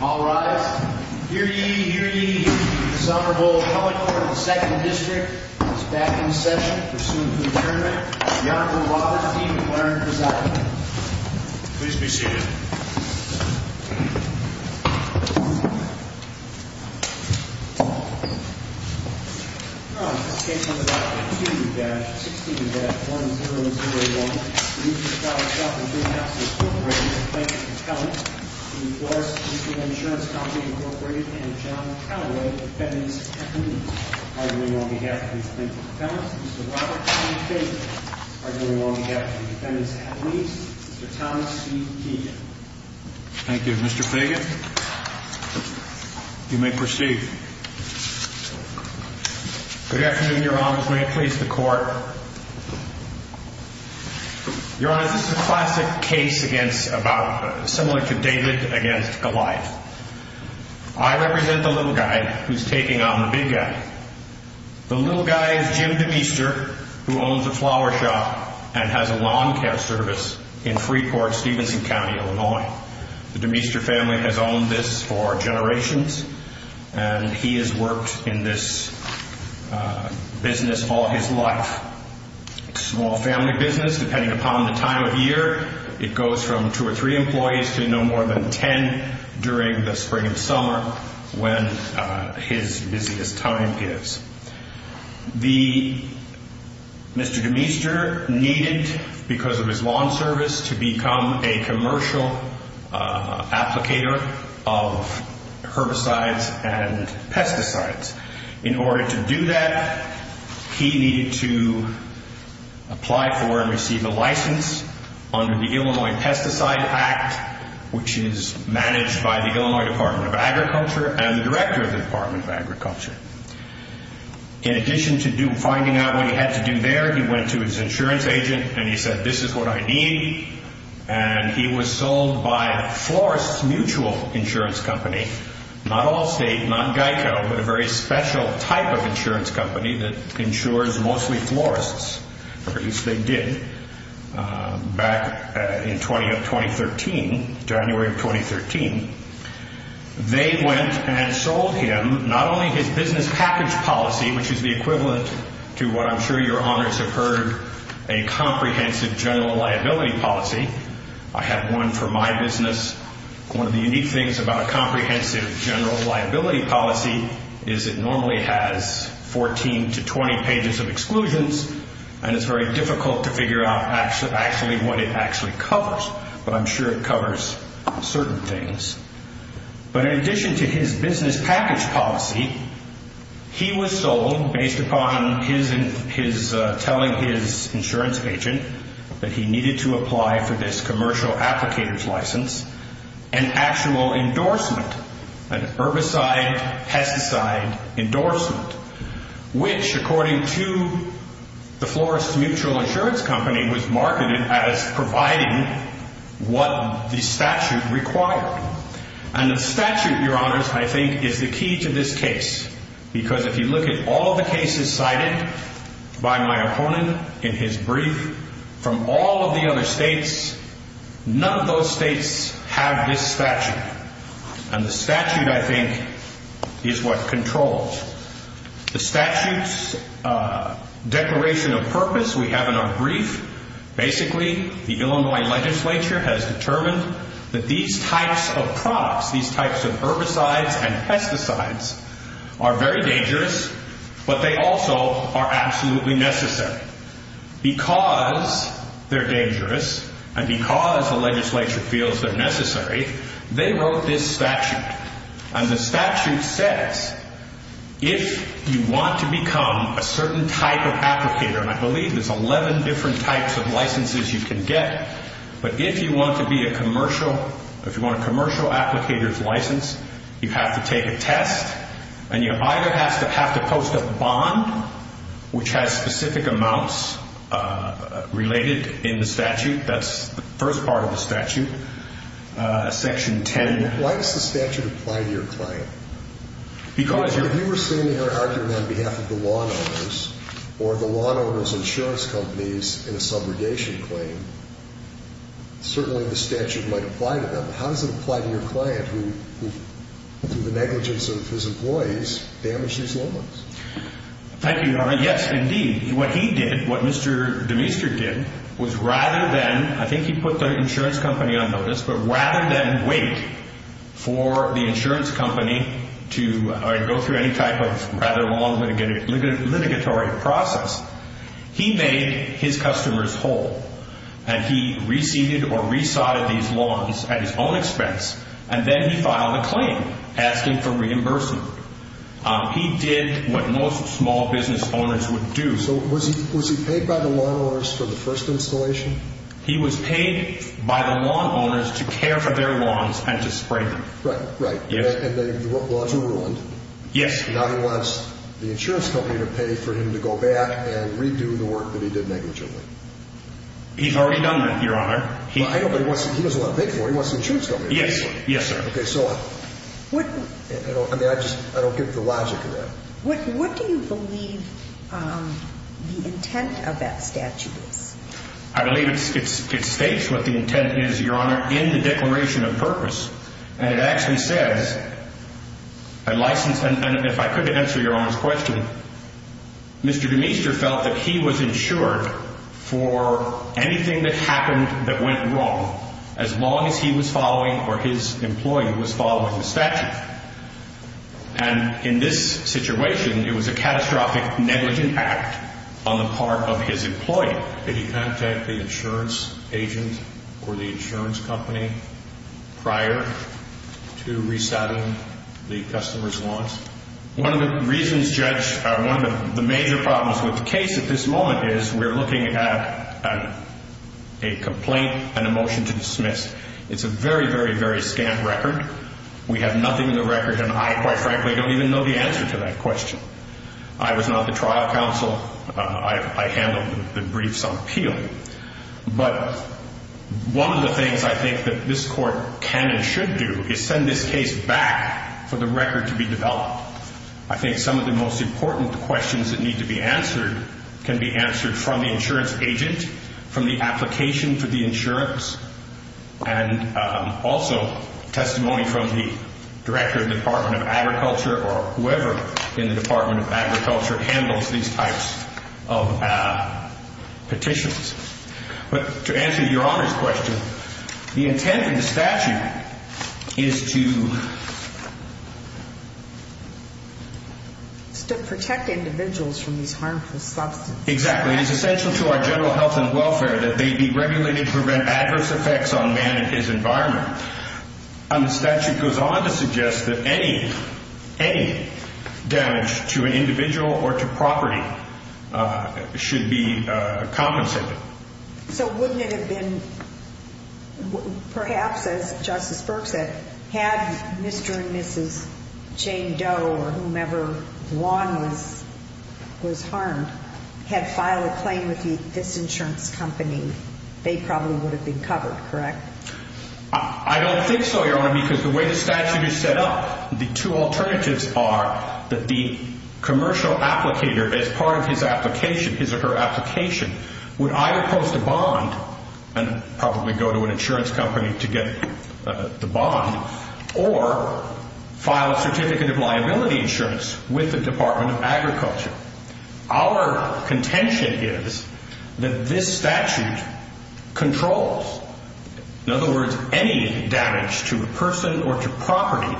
All rise. Hear ye, hear ye. This Honorable Appellate Court of the 2nd District is back in session. Pursuant to adjournment, the Honorable Robert E. McLaren presiding. Please be seated. The case on the record is 2-16-1001, Meester Flower Shop & Greenhouse Inc. v. Florists Mutual Insurance Co. v. John Caldwell, defendants at least. Arguing on behalf of these plaintiff's appellants, Mr. Robert E. Fagan. Arguing on behalf of the defendants at least, Mr. Thomas C. Keegan. Thank you, Mr. Fagan. You may proceed. Good afternoon, Your Honors. May it please the Court. Your Honors, this is a classic case similar to David v. Goliath. I represent the little guy who's taking on the big guy. The little guy is Jim DeMeester, who owns a flower shop and has a lawn care service in Freeport, Stevenson County, Illinois. The DeMeester family has owned this for generations, and he has worked in this business all his life. Small family business, depending upon the time of year. It goes from two or three employees to no more than ten during the spring and summer when his busiest time is. Mr. DeMeester needed, because of his lawn service, to become a commercial applicator of herbicides and pesticides. In order to do that, he needed to apply for and receive a license under the Illinois Pesticide Act, which is managed by the Illinois Department of Agriculture and the Director of the Department of Agriculture. In addition to finding out what he had to do there, he went to his insurance agent and he said, not Allstate, not Geico, but a very special type of insurance company that insures mostly florists, or at least they did back in January of 2013. They went and sold him not only his business package policy, which is the equivalent to what I'm sure your honors have heard, a comprehensive general liability policy. I have one for my business. One of the unique things about a comprehensive general liability policy is it normally has 14 to 20 pages of exclusions, and it's very difficult to figure out actually what it actually covers, but I'm sure it covers certain things. But in addition to his business package policy, he was sold, based upon his telling his insurance agent that he needed to apply for this commercial applicator's license, an actual endorsement, an herbicide-pesticide endorsement, which, according to the florist's mutual insurance company, was marketed as providing what the statute required. And the statute, your honors, I think is the key to this case, because if you look at all the cases cited by my opponent in his brief from all of the other states, none of those states have this statute, and the statute, I think, is what controls. The statute's declaration of purpose we have in our brief. Basically, the Illinois legislature has determined that these types of products, these types of herbicides and pesticides are very dangerous, but they also are absolutely necessary. Because they're dangerous and because the legislature feels they're necessary, they wrote this statute. And the statute says if you want to become a certain type of applicator, and I believe there's 11 different types of licenses you can get, but if you want to be a commercial, if you want a commercial applicator's license, you have to take a test, and you either have to post a bond, which has specific amounts related in the statute. That's the first part of the statute, Section 10. Why does the statute apply to your claim? Because if you were saying your argument on behalf of the law owners or the law owner's insurance companies in a subrogation claim, certainly the statute might apply to them. How does it apply to your client who, through the negligence of his employees, damaged these laws? Thank you, Your Honor. Yes, indeed. What he did, what Mr. Demeester did, was rather than, I think he put the insurance company on notice, but rather than wait for the insurance company to go through any type of rather long litigatory process, he made his customers whole, and he reseated or resodded these laws at his own expense, and then he filed a claim asking for reimbursement. He did what most small business owners would do. So was he paid by the law owners for the first installation? He was paid by the law owners to care for their lawns and to spray them. Right, right. And the laws were ruined. Yes, sir. Now he wants the insurance company to pay for him to go back and redo the work that he did negligently. He's already done that, Your Honor. I know, but he doesn't want to pay for it. He wants the insurance company to pay for it. Yes, sir. Okay, so I don't get the logic of that. What do you believe the intent of that statute is? I believe it states what the intent is, Your Honor, in the Declaration of Purpose, and it actually says, and if I could answer Your Honor's question, Mr. Demeester felt that he was insured for anything that happened that went wrong as long as he was following or his employee was following the statute. And in this situation, it was a catastrophic negligent act on the part of his employee. Did he contact the insurance agent or the insurance company prior to resetting the customer's lawns? One of the reasons, Judge, one of the major problems with the case at this moment is we're looking at a complaint and a motion to dismiss. It's a very, very, very scant record. We have nothing in the record, and I, quite frankly, don't even know the answer to that question. I was not the trial counsel. I handled the briefs on appeal. But one of the things I think that this Court can and should do is send this case back for the record to be developed. I think some of the most important questions that need to be answered can be answered from the insurance agent, from the application for the insurance, and also testimony from the director of the Department of Agriculture or whoever in the Department of Agriculture handles these types of petitions. But to answer Your Honor's question, the intent of the statute is to... It's to protect individuals from these harmful substances. Exactly. It is essential to our general health and welfare that they be regulated to prevent adverse effects on man and his environment. And the statute goes on to suggest that any damage to an individual or to property should be compensated. So wouldn't it have been perhaps, as Justice Burke said, had Mr. and Mrs. Jane Doe or whomever Juan was harmed had filed a claim with this insurance company, they probably would have been covered, correct? I don't think so, Your Honor, because the way the statute is set up, the two alternatives are that the commercial applicator, as part of his or her application, would either post a bond and probably go to an insurance company to get the bond or file a certificate of liability insurance with the Department of Agriculture. Our contention is that this statute controls, in other words, any damage to a person or to property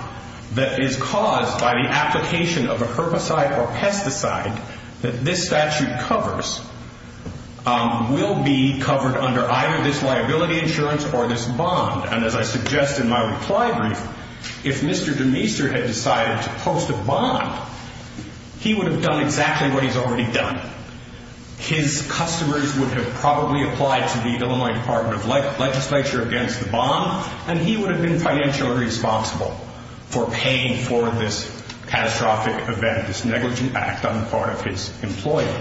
that is caused by the application of a herbicide or pesticide that this statute covers will be covered under either this liability insurance or this bond. And as I suggest in my reply brief, if Mr. Demeester had decided to post a bond, he would have done exactly what he's already done. His customers would have probably applied to the Illinois Department of Legislature against the bond, and he would have been financially responsible for paying for this catastrophic event, this negligent act on the part of his employee.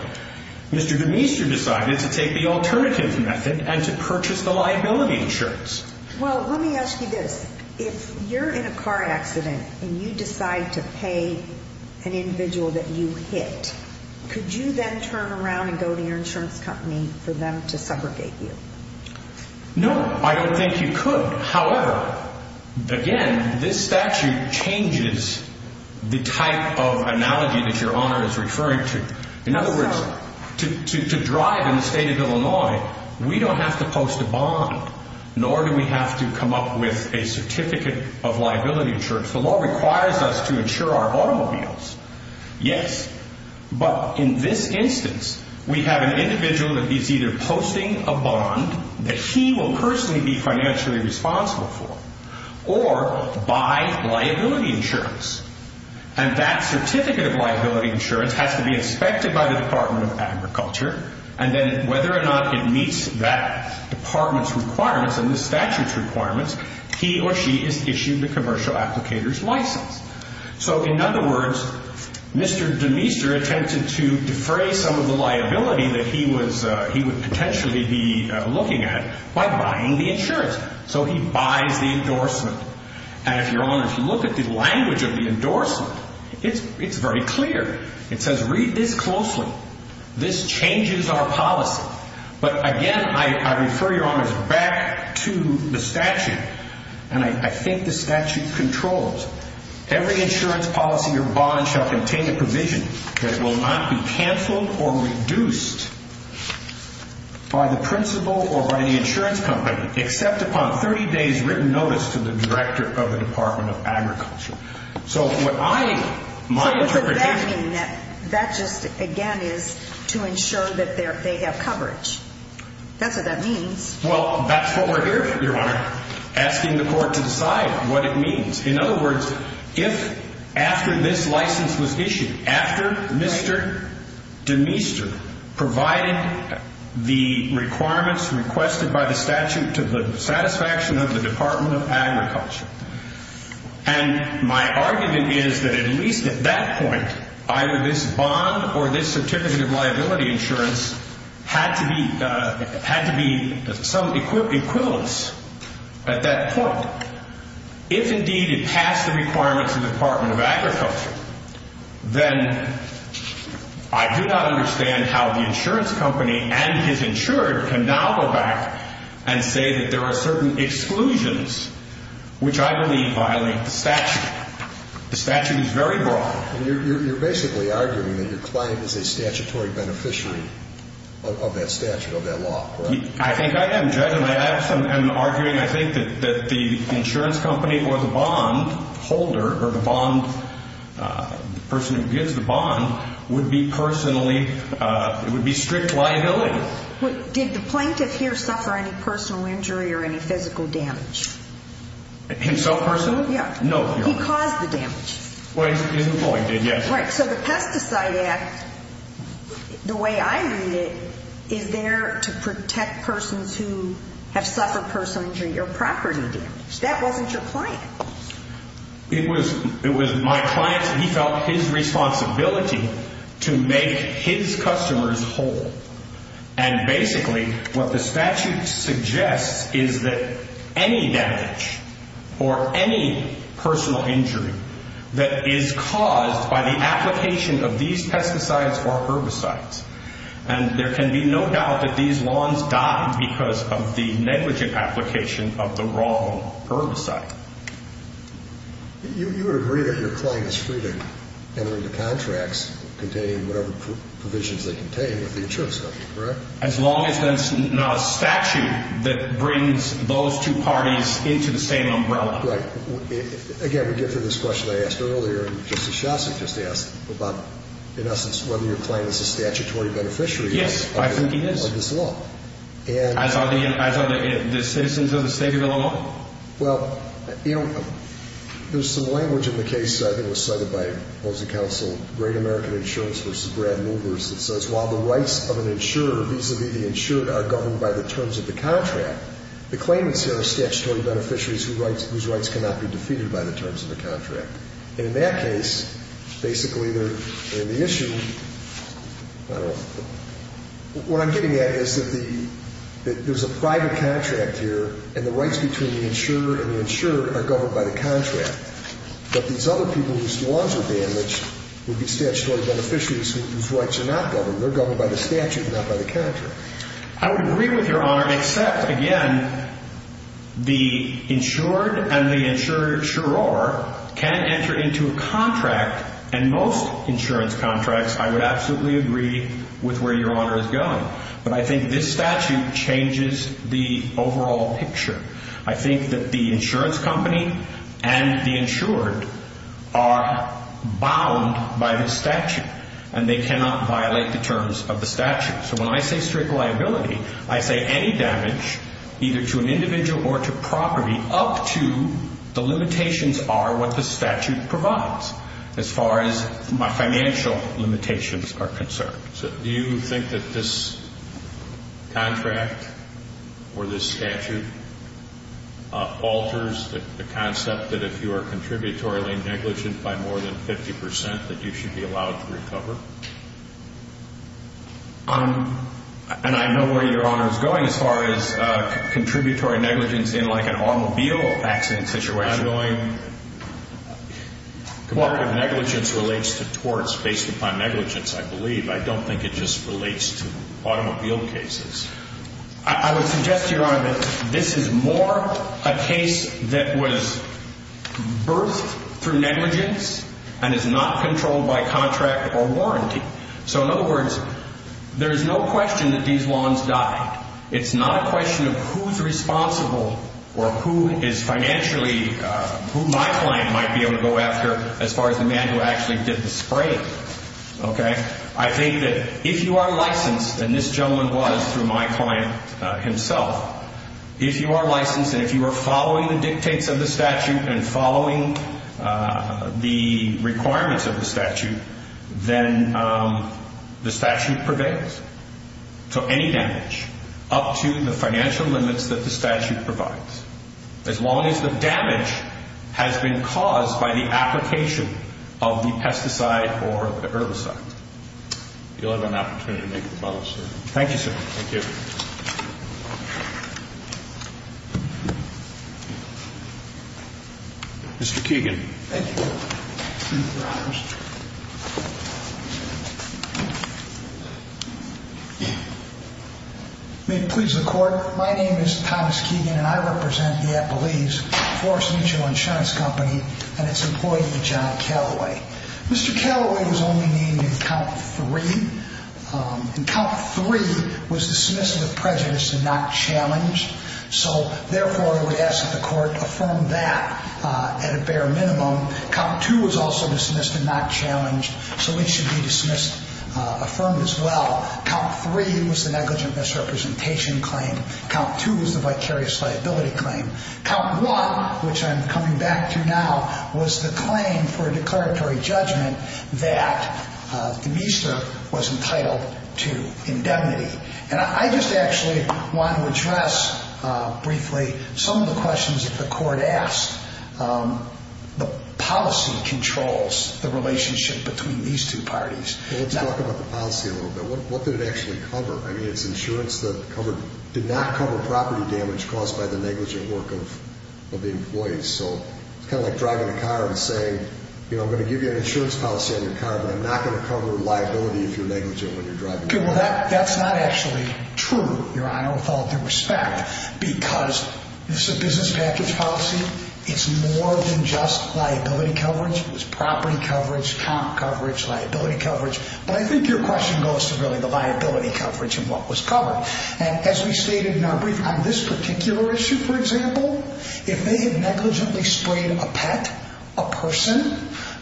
Mr. Demeester decided to take the alternative method and to purchase the liability insurance. Well, let me ask you this. If you're in a car accident and you decide to pay an individual that you hit, could you then turn around and go to your insurance company for them to subrogate you? No, I don't think you could. However, again, this statute changes the type of analogy that Your Honor is referring to. In other words, to drive in the state of Illinois, we don't have to post a bond, nor do we have to come up with a certificate of liability insurance. The law requires us to insure our automobiles. Yes, but in this instance, we have an individual that is either posting a bond that he will personally be financially responsible for or buy liability insurance. And that certificate of liability insurance has to be inspected by the Department of Agriculture, and then whether or not it meets that department's requirements and the statute's requirements, he or she is issued the commercial applicator's license. So, in other words, Mr. Demeester attempted to defray some of the liability that he would potentially be looking at by buying the insurance. So he buys the endorsement. And, Your Honor, if you look at the language of the endorsement, it's very clear. It says, Read this closely. This changes our policy. But, again, I refer, Your Honor, back to the statute. And I think the statute controls. Every insurance policy or bond shall contain a provision that will not be canceled or reduced by the principal or by the insurance company except upon 30 days' written notice to the director of the Department of Agriculture. So what I might be predicting... So what does that mean? That just, again, is to ensure that they have coverage. That's what that means. Well, that's what we're here for, Your Honor, asking the court to decide what it means. In other words, if after this license was issued, after Mr. Demeester provided the requirements requested by the statute to the satisfaction of the Department of Agriculture, and my argument is that at least at that point, either this bond or this certificate of liability insurance had to be some equivalence at that point. If, indeed, it passed the requirements of the Department of Agriculture, then I do not understand how the insurance company and his insurer can now go back and say that there are certain exclusions which I believe violate the statute. The statute is very broad. You're basically arguing that your client is a statutory beneficiary of that statute, of that law, right? I think I am, Judge, and I am arguing, I think, that the insurance company or the bond holder or the bond person who gives the bond would be personally, it would be strict liability. Did the plaintiff here suffer any personal injury or any physical damage? Himself personally? Yeah. No, Your Honor. He caused the damage. Well, he's the plaintiff, yes. Right. So the Pesticide Act, the way I read it, is there to protect persons who have suffered personal injury or property damage. That wasn't your client. It was my client's, and he felt his responsibility to make his customers whole. And basically what the statute suggests is that any damage or any personal injury that is caused by the application of these pesticides or herbicides, and there can be no doubt that these lawns died because of the negligent application of the wrong herbicide. You would agree that your client is free to enter into contracts containing whatever provisions they contain with the insurance company, correct? As long as there's no statute that brings those two parties into the same umbrella. Right. Again, we get to this question I asked earlier, and Justice Shostak just asked about, in essence, whether your client is a statutory beneficiary of this law. Yes, I think he is. As are the citizens of the state of Illinois? Well, you know, there's some language in the case that I think was cited by opposing counsel, Great American Insurance v. Brad Movers, that says while the rights of an insurer vis-a-vis the insured are governed by the terms of the contract, the claimants here are statutory beneficiaries whose rights cannot be defeated by the terms of the contract. And in that case, basically, they're in the issue. What I'm getting at is that there's a private contract here, and the rights between the insurer and the insured are governed by the contract. But these other people whose lawns were damaged would be statutory beneficiaries whose rights are not governed. They're governed by the statute, not by the contract. I would agree with Your Honor, except, again, the insured and the insurer can enter into a contract, and most insurance contracts, I would absolutely agree with where Your Honor is going. But I think this statute changes the overall picture. I think that the insurance company and the insured are bound by the statute, and they cannot violate the terms of the statute. So when I say strict liability, I say any damage, either to an individual or to property, up to the limitations are what the statute provides as far as my financial limitations are concerned. So do you think that this contract or this statute alters the concept that if you are contributory negligent by more than 50 percent, that you should be allowed to recover? And I know where Your Honor is going as far as contributory negligence in, like, an automobile accident situation. I'm going, comparative negligence relates to torts based upon negligence, I believe. I don't think it just relates to automobile cases. I would suggest to Your Honor that this is more a case that was birthed through negligence and is not controlled by contract or warranty. So in other words, there is no question that these lawns died. It's not a question of who's responsible or who is financially, who my client might be able to go after as far as the man who actually did the spraying. Okay? I think that if you are licensed, and this gentleman was through my client himself, if you are licensed and if you are following the dictates of the statute and following the requirements of the statute, then the statute prevails. So any damage up to the financial limits that the statute provides, as long as the damage has been caused by the application of the pesticide or herbicide. You'll have an opportunity to make the follow-up, sir. Thank you, sir. Thank you. Mr. Keegan. Thank you, Your Honor. May it please the Court, my name is Thomas Keegan, and I represent the Appalachian Forest Mutual Insurance Company and its employee, John Calloway. Mr. Calloway was only named in count three. And count three was dismissed with prejudice and not challenged, so therefore I would ask that the Court affirm that at a bare minimum. Count two was also dismissed and not challenged, so it should be dismissed, affirmed as well. Count three was the negligent misrepresentation claim. Count two was the vicarious liability claim. Count one, which I'm coming back to now, was the claim for a declaratory judgment that Demeester was entitled to indemnity. And I just actually want to address briefly some of the questions that the Court asked. The policy controls the relationship between these two parties. Well, let's talk about the policy a little bit. What did it actually cover? I mean, it's insurance that did not cover property damage caused by the negligent work of the employees. So it's kind of like driving a car and saying, you know, I'm going to give you an insurance policy on your car, but I'm not going to cover liability if you're negligent when you're driving. Well, that's not actually true, Your Honor, with all due respect, because this is a business package policy. It's more than just liability coverage. It was property coverage, comp coverage, liability coverage. But I think your question goes to really the liability coverage and what was covered. And as we stated in our brief on this particular issue, for example, if they had negligently sprayed a pet, a person,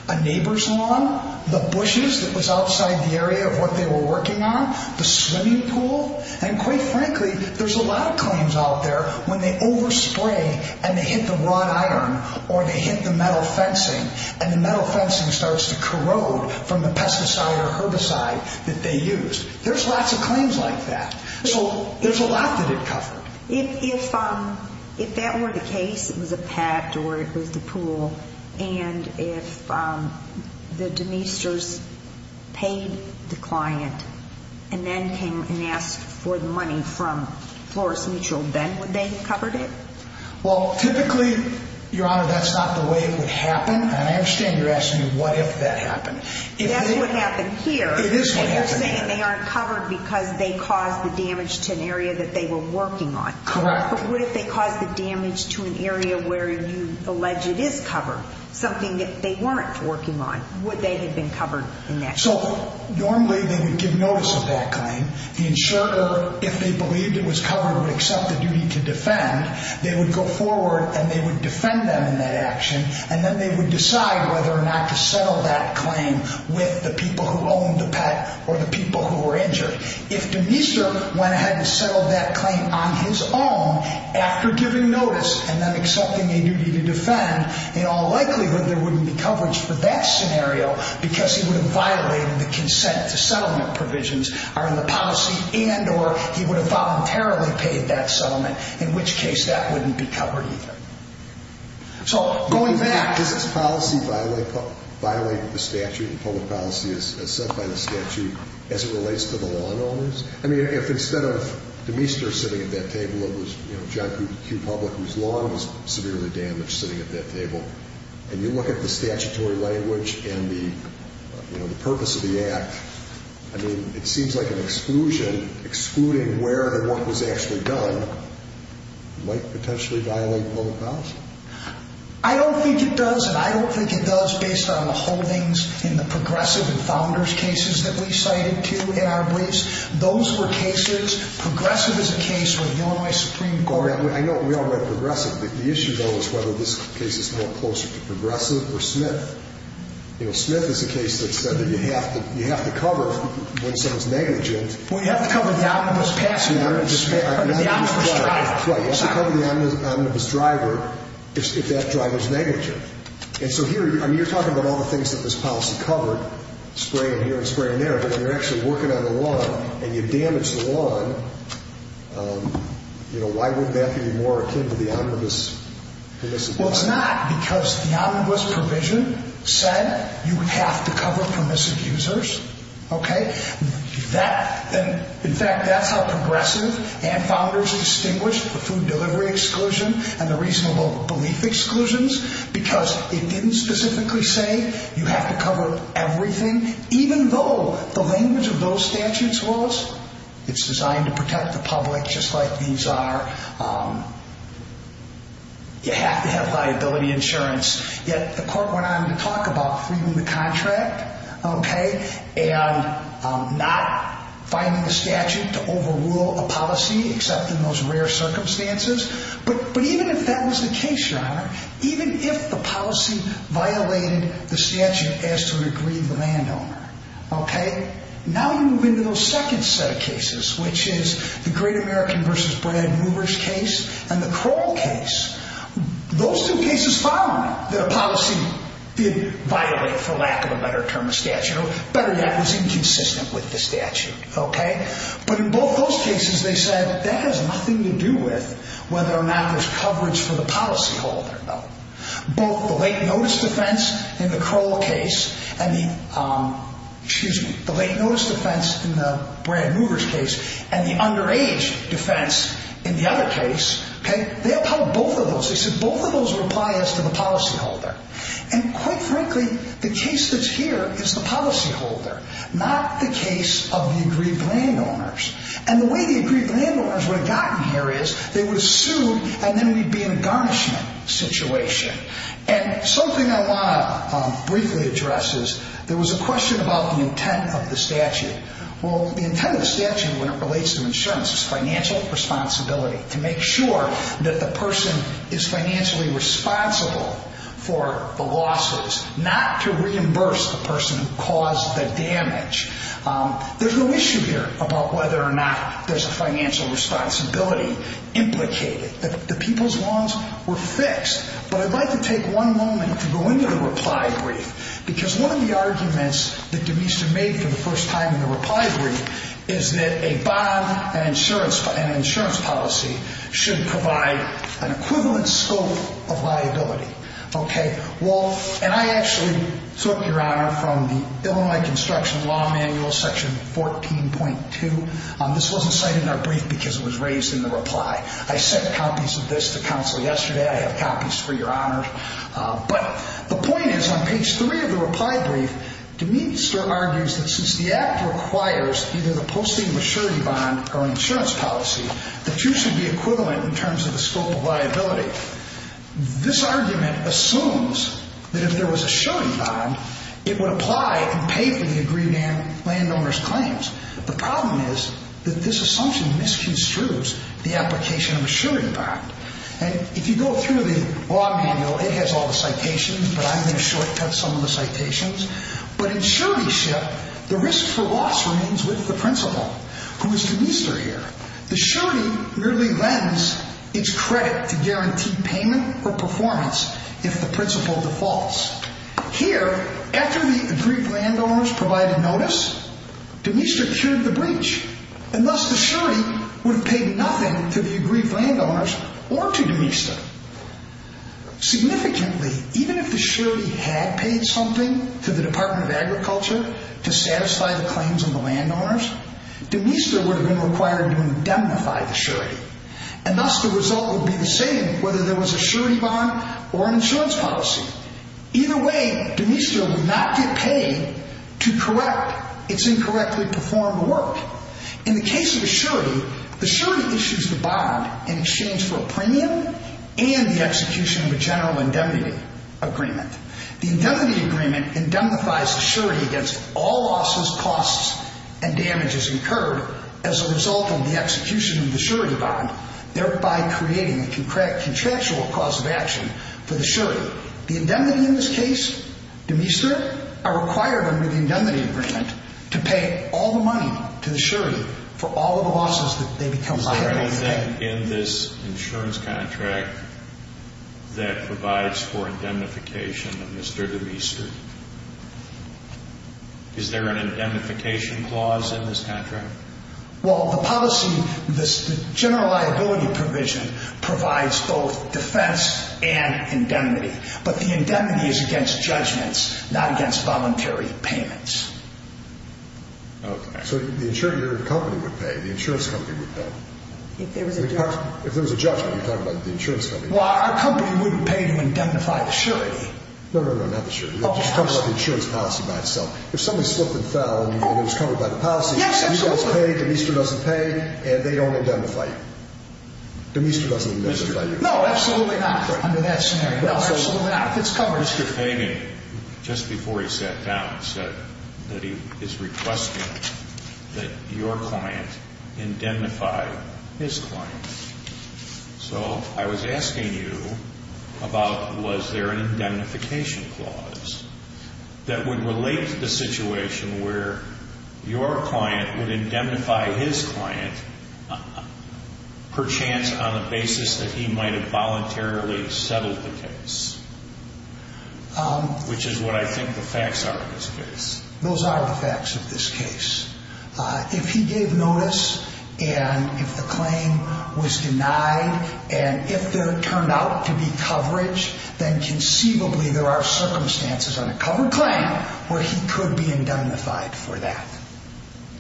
a neighbor's lawn, the bushes that was outside the area of what they were working on, the swimming pool. And quite frankly, there's a lot of claims out there when they overspray and they hit the wrought iron or they hit the metal fencing, and the metal fencing starts to corrode from the pesticide or herbicide that they used. There's lots of claims like that. So there's a lot that it covered. If that were the case, it was a pet or it was the pool, and if the demesters paid the client and then came and asked for the money from Flores Mutual, then would they have covered it? Well, typically, Your Honor, that's not the way it would happen. And I understand you're asking what if that happened. It is what happened here. You're saying they aren't covered because they caused the damage to an area that they were working on. Correct. But what if they caused the damage to an area where you allege it is covered, something that they weren't working on? Would they have been covered in that case? So normally they would give notice of that claim. The insurer, if they believed it was covered, would accept the duty to defend. They would go forward and they would defend them in that action, and then they would decide whether or not to settle that claim with the people who owned the pet or the people who were injured. If demester went ahead and settled that claim on his own, after giving notice and then accepting a duty to defend, in all likelihood there wouldn't be coverage for that scenario because he would have violated the consent to settlement provisions are in the policy and or he would have voluntarily paid that settlement, in which case that wouldn't be covered either. So going back, does this policy violate the statute and public policy as set by the statute as it relates to the lawn owners? I mean, if instead of demester sitting at that table, it was John Q. Public, whose lawn was severely damaged, sitting at that table, and you look at the statutory language and the purpose of the act, I mean, it seems like an exclusion, excluding where and what was actually done, might potentially violate public policy. I don't think it does, and I don't think it does based on the holdings in the progressive and founders cases that we cited too in our briefs. Those were cases. Progressive is a case where the Illinois Supreme Court I know we all read progressive, but the issue, though, is whether this case is more closer to progressive or Smith. You know, Smith is a case that said that you have to cover when someone's negligent. Well, you have to cover the omnibus passenger or the omnibus driver. You have to cover the omnibus driver if that driver's negligent. And so here, I mean, you're talking about all the things that this policy covered, spraying here and spraying there, but if you're actually working on the lawn and you damage the lawn, you know, why wouldn't that be more akin to the omnibus permissive? Well, it's not because the omnibus provision said you have to cover permissive users. In fact, that's how progressive and founders distinguished the food delivery exclusion and the reasonable belief exclusions, because it didn't specifically say you have to cover everything, even though the language of those statutes was it's designed to protect the public, just like these are. You have to have liability insurance. Yet the court went on to talk about freeing the contract, okay, and not finding the statute to overrule a policy, except in those rare circumstances. But even if that was the case, Your Honor, even if the policy violated the statute as to regreed the landowner, okay, now you move into those second set of cases, which is the great American versus Brad Movers case and the Kroll case. Those two cases found that a policy did violate, for lack of a better term, a statute, or better yet, was inconsistent with the statute, okay? But in both those cases they said that has nothing to do with whether or not there's coverage for the policyholder. Both the late notice defense in the Kroll case and the, excuse me, the late notice defense in the Brad Movers case and the underage defense in the other case, okay, they upheld both of those. They said both of those would apply as to the policyholder. And quite frankly, the case that's here is the policyholder, not the case of the agreed landowners. And the way the agreed landowners would have gotten here is they would have sued and then we'd be in a garnishment situation. And something I want to briefly address is there was a question about the intent of the statute. Well, the intent of the statute when it relates to insurance is financial responsibility to make sure that the person is financially responsible for the losses, not to reimburse the person who caused the damage. There's no issue here about whether or not there's a financial responsibility implicated. The people's loans were fixed. But I'd like to take one moment to go into the reply brief, because one of the arguments that Demeester made for the first time in the reply brief is that a bond and an insurance policy should provide an equivalent scope of liability. Okay. Well, and I actually took, Your Honor, from the Illinois Construction Law Manual, Section 14.2. This wasn't cited in our brief because it was raised in the reply. I sent copies of this to counsel yesterday. I have copies for Your Honor. But the point is on page 3 of the reply brief, Demeester argues that since the Act requires either the posting of a surety bond or an insurance policy, the two should be equivalent in terms of the scope of liability. This argument assumes that if there was a surety bond, it would apply and pay for the agreed landowner's claims. The problem is that this assumption misconstrues the application of a surety bond. And if you go through the law manual, it has all the citations, but I'm going to shortcut some of the citations. But in suretyship, the risk for loss remains with the principal, who is Demeester here. The surety merely lends its credit to guarantee payment or performance if the principal defaults. Here, after the agreed landowners provided notice, Demeester cured the breach. And thus, the surety would have paid nothing to the agreed landowners or to Demeester. Significantly, even if the surety had paid something to the Department of Agriculture to satisfy the claims of the landowners, Demeester would have been required to indemnify the surety. And thus, the result would be the same whether there was a surety bond or an insurance policy. Either way, Demeester would not get paid to correct its incorrectly performed work. In the case of a surety, the surety issues the bond in exchange for a premium and the execution of a general indemnity agreement. The indemnity agreement indemnifies the surety against all losses, costs, and damages incurred as a result of the execution of the surety bond, thereby creating a contractual cause of action for the surety. The indemnity in this case, Demeester, are required under the indemnity agreement to pay all the money to the surety for all of the losses that they become liable to pay. Is there anything in this insurance contract that provides for indemnification of Mr. Demeester? Is there an indemnification clause in this contract? Well, the policy, the general liability provision provides both defense and indemnity. But the indemnity is against judgments, not against voluntary payments. Okay. So the insurer company would pay. The insurance company would pay. If there was a judgment. If there was a judgment, you're talking about the insurance company. Well, our company wouldn't pay to indemnify the surety. No, no, no, not the surety. It just covers up the insurance policy by itself. If something slipped and fell and it was covered by the policy, the speaker doesn't pay, Demeester doesn't pay, and they don't indemnify you. Demeester doesn't indemnify you. No, absolutely not under that scenario. No, absolutely not. It's covered. Mr. Fagan, just before he sat down, said that he is requesting that your client indemnify his client. So I was asking you about was there an indemnification clause that would relate to the situation where your client would indemnify his client perchance on the basis that he might have voluntarily settled the case, which is what I think the facts are in this case. Those are the facts of this case. If he gave notice and if the claim was denied and if there turned out to be coverage, then conceivably there are circumstances on a covered claim where he could be indemnified for that.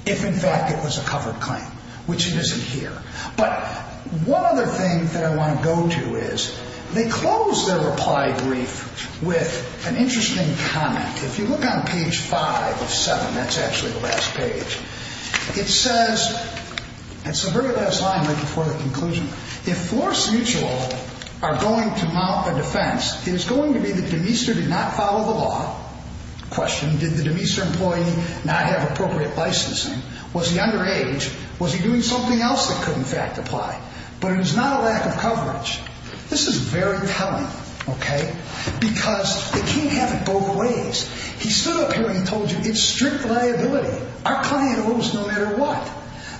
If in fact it was a covered claim, which it isn't here. But one other thing that I want to go to is they close their reply brief with an interesting comment. If you look on page 5 of 7, that's actually the last page, it says, it's the very last line right before the conclusion, if Flores Mutual are going to mount a defense, it is going to be that Demeester did not follow the law. Question, did the Demeester employee not have appropriate licensing? Was he underage? Was he doing something else that could in fact apply? But it was not a lack of coverage. This is very telling, okay, because they can't have it both ways. He stood up here and he told you it's strict liability. Our client owes no matter what.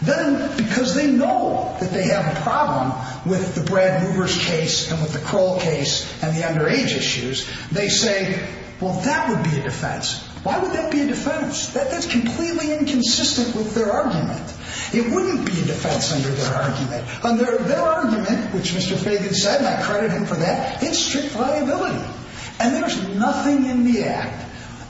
Then because they know that they have a problem with the Brad Hoover's case and with the Kroll case and the underage issues, they say, well, that would be a defense. Why would that be a defense? That's completely inconsistent with their argument. It wouldn't be a defense under their argument. Under their argument, which Mr. Fagan said, and I credit him for that, it's strict liability. And there's nothing in the act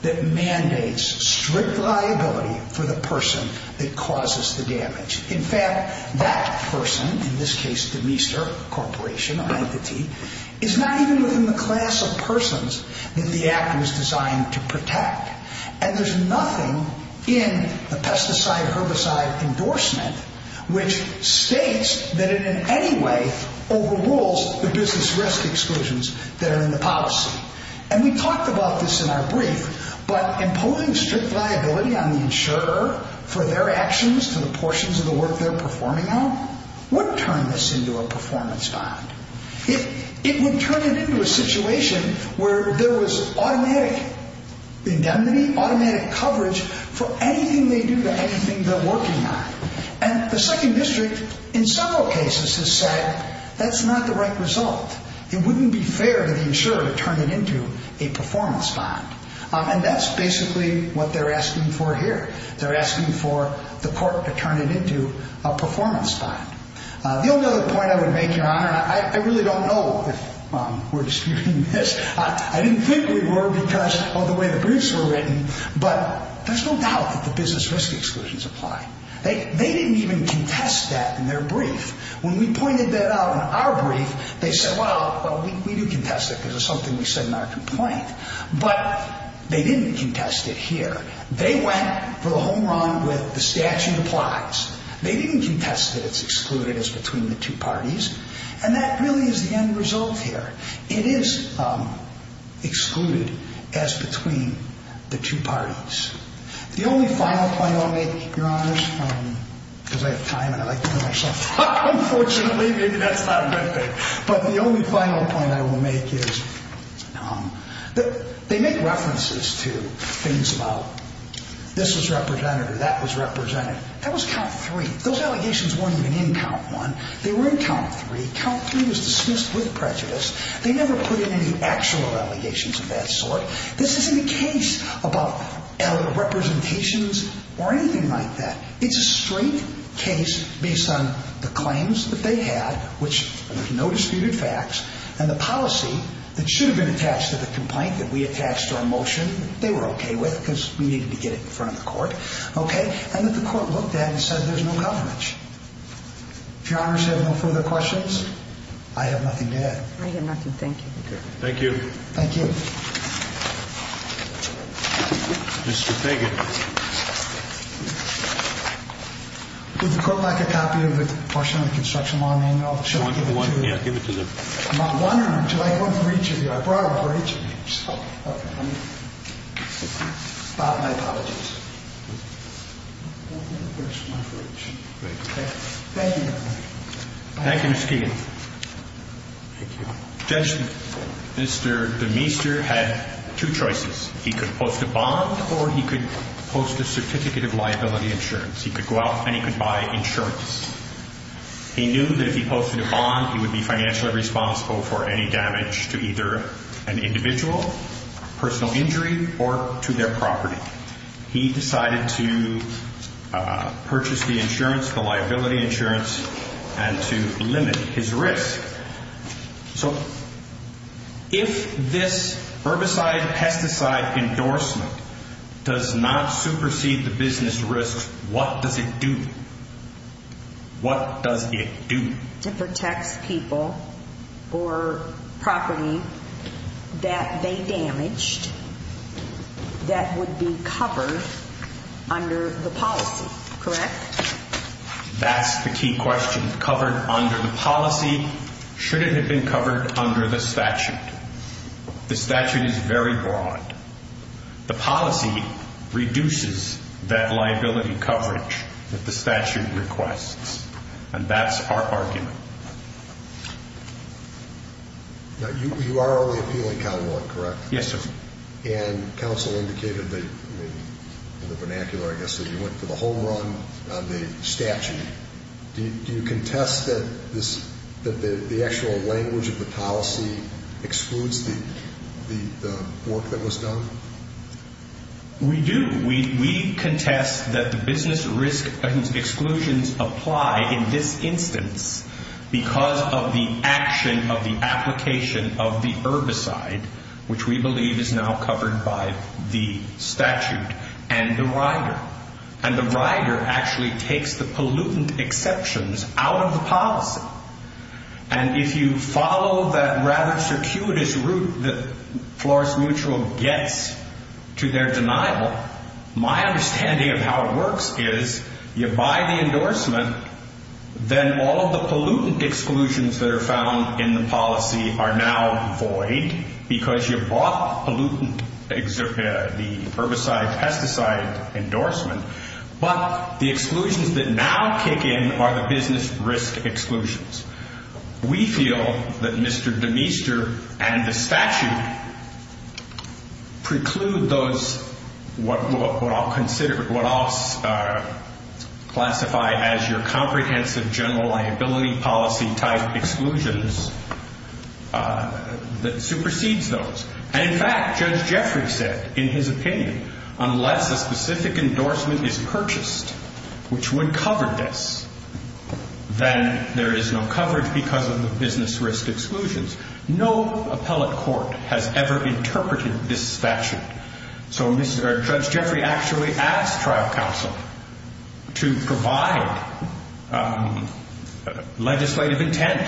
that mandates strict liability for the person that causes the damage. In fact, that person, in this case Demeester Corporation or entity, is not even within the class of persons that the act was designed to protect. And there's nothing in the pesticide herbicide endorsement which states that it in any way overrules the business risk exclusions that are in the policy. And we talked about this in our brief, but imposing strict liability on the insurer for their actions to the portions of the work they're performing on would turn this into a performance bond. It would turn it into a situation where there was automatic indemnity, automatic coverage for anything they do to anything they're working on. And the second district in several cases has said that's not the right result. It wouldn't be fair to the insurer to turn it into a performance bond. And that's basically what they're asking for here. They're asking for the court to turn it into a performance bond. The only other point I would make, Your Honor, and I really don't know if we're disputing this. I didn't think we were because of the way the briefs were written, but there's no doubt that the business risk exclusions apply. They didn't even contest that in their brief. When we pointed that out in our brief, they said, well, we do contest it because it's something we said in our complaint. But they didn't contest it here. They went for the home run with the statute applies. They didn't contest that it's excluded as between the two parties. And that really is the end result here. It is excluded as between the two parties. The only final point I'll make, Your Honor, because I have time and I like to do it myself. Unfortunately, maybe that's not a good thing. But the only final point I will make is they make references to things about this was represented or that was represented. That was count three. Those allegations weren't even in count one. They were in count three. Count three was dismissed with prejudice. They never put in any actual allegations of that sort. This isn't a case about representations or anything like that. It's a straight case based on the claims that they had, which there's no disputed facts, and the policy that should have been attached to the complaint that we attached to our motion. They were OK with because we needed to get it in front of the court. OK. And that the court looked at and said there's no coverage. If Your Honors have no further questions, I have nothing to add. I have nothing. Thank you. Thank you. Thank you. Mr. Fagan. Would the court like a copy of the portion of the construction law manual? Should I give it to you? Yeah, give it to them. One or two? I have one for each of you. I brought one for each of you. OK. My apologies. Thank you, Your Honor. Thank you, Mr. Keegan. Thank you. Judge Mr. Demeester had two choices. He could post a bond or he could post a certificate of liability insurance. He could go out and he could buy insurance. He knew that if he posted a bond, he would be financially responsible for any damage to either an individual, personal injury, or to their property. He decided to purchase the insurance, the liability insurance, and to limit his risk. So if this herbicide-pesticide endorsement does not supersede the business risk, what does it do? What does it do? It protects people or property that they damaged that would be covered under the policy, correct? That's the key question. Covered under the policy? Should it have been covered under the statute? The statute is very broad. The policy reduces that liability coverage that the statute requests, and that's our argument. You are only appealing count one, correct? Yes, sir. And counsel indicated in the vernacular, I guess, that you went for the whole run on the statute. Do you contest that the actual language of the policy excludes the work that was done? We do. We contest that the business risk exclusions apply in this instance because of the action of the application of the herbicide, which we believe is now covered by the statute, and the rider. The rider actually takes the pollutant exceptions out of the policy, and if you follow that rather circuitous route that Flores Mutual gets to their denial, my understanding of how it works is you buy the endorsement, then all of the pollutant exclusions that are found in the policy are now void because you bought the herbicide-pesticide endorsement, but the exclusions that now kick in are the business risk exclusions. We feel that Mr. Demeester and the statute preclude those, what I'll consider, what I'll classify as your comprehensive general liability policy-type exclusions that supersedes those, and in fact, Judge Jeffrey said in his opinion, unless a specific endorsement is purchased which would cover this, then there is no coverage because of the business risk exclusions. No appellate court has ever interpreted this statute, so Judge Jeffrey actually asked trial counsel to provide legislative intent,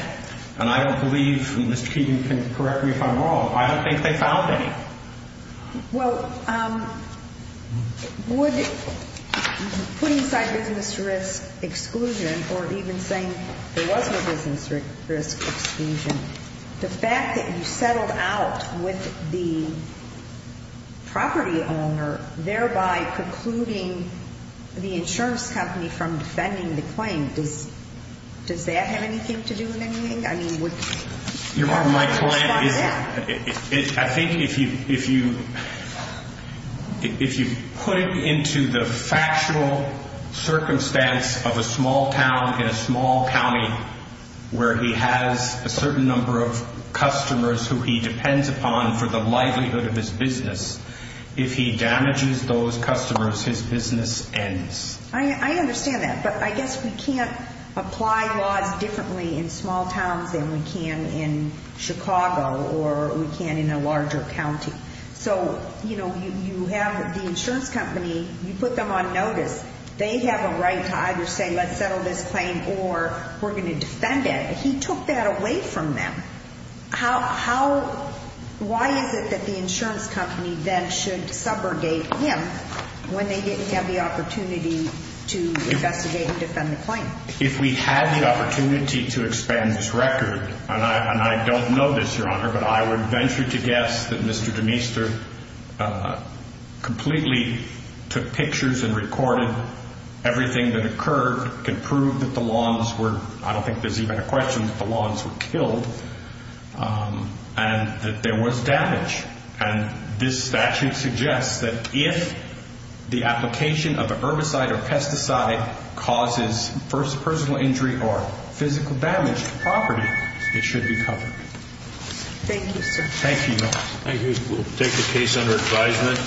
and I don't believe Mr. Keegan can correct me if I'm wrong. I don't think they found any. Well, would putting aside business risk exclusion or even saying there was no business risk exclusion, the fact that you settled out with the property owner, thereby precluding the insurance company from defending the claim, does that have anything to do with anything? Your Honor, my client is, I think if you put it into the factual circumstance of a small town in a small county where he has a certain number of customers who he depends upon for the livelihood of his business, if he damages those customers, his business ends. I understand that, but I guess we can't apply laws differently in small towns than we can in Chicago or we can in a larger county. So, you know, you have the insurance company, you put them on notice, they have a right to either say let's settle this claim or we're going to defend it. He took that away from them. Why is it that the insurance company then should subrogate him when they didn't have the opportunity to investigate and defend the claim? If we had the opportunity to expand this record, and I don't know this, Your Honor, but I would venture to guess that Mr. Demeester completely took pictures and recorded everything that occurred, could prove that the lawns were, I don't think there's even a question that the lawns were killed, and that there was damage. And this statute suggests that if the application of a herbicide or pesticide causes personal injury or physical damage to property, it should be covered. Thank you, sir. Thank you, Your Honor. Thank you. We'll take the case under advisement. The court's adjourned. Thank you, Your Honor.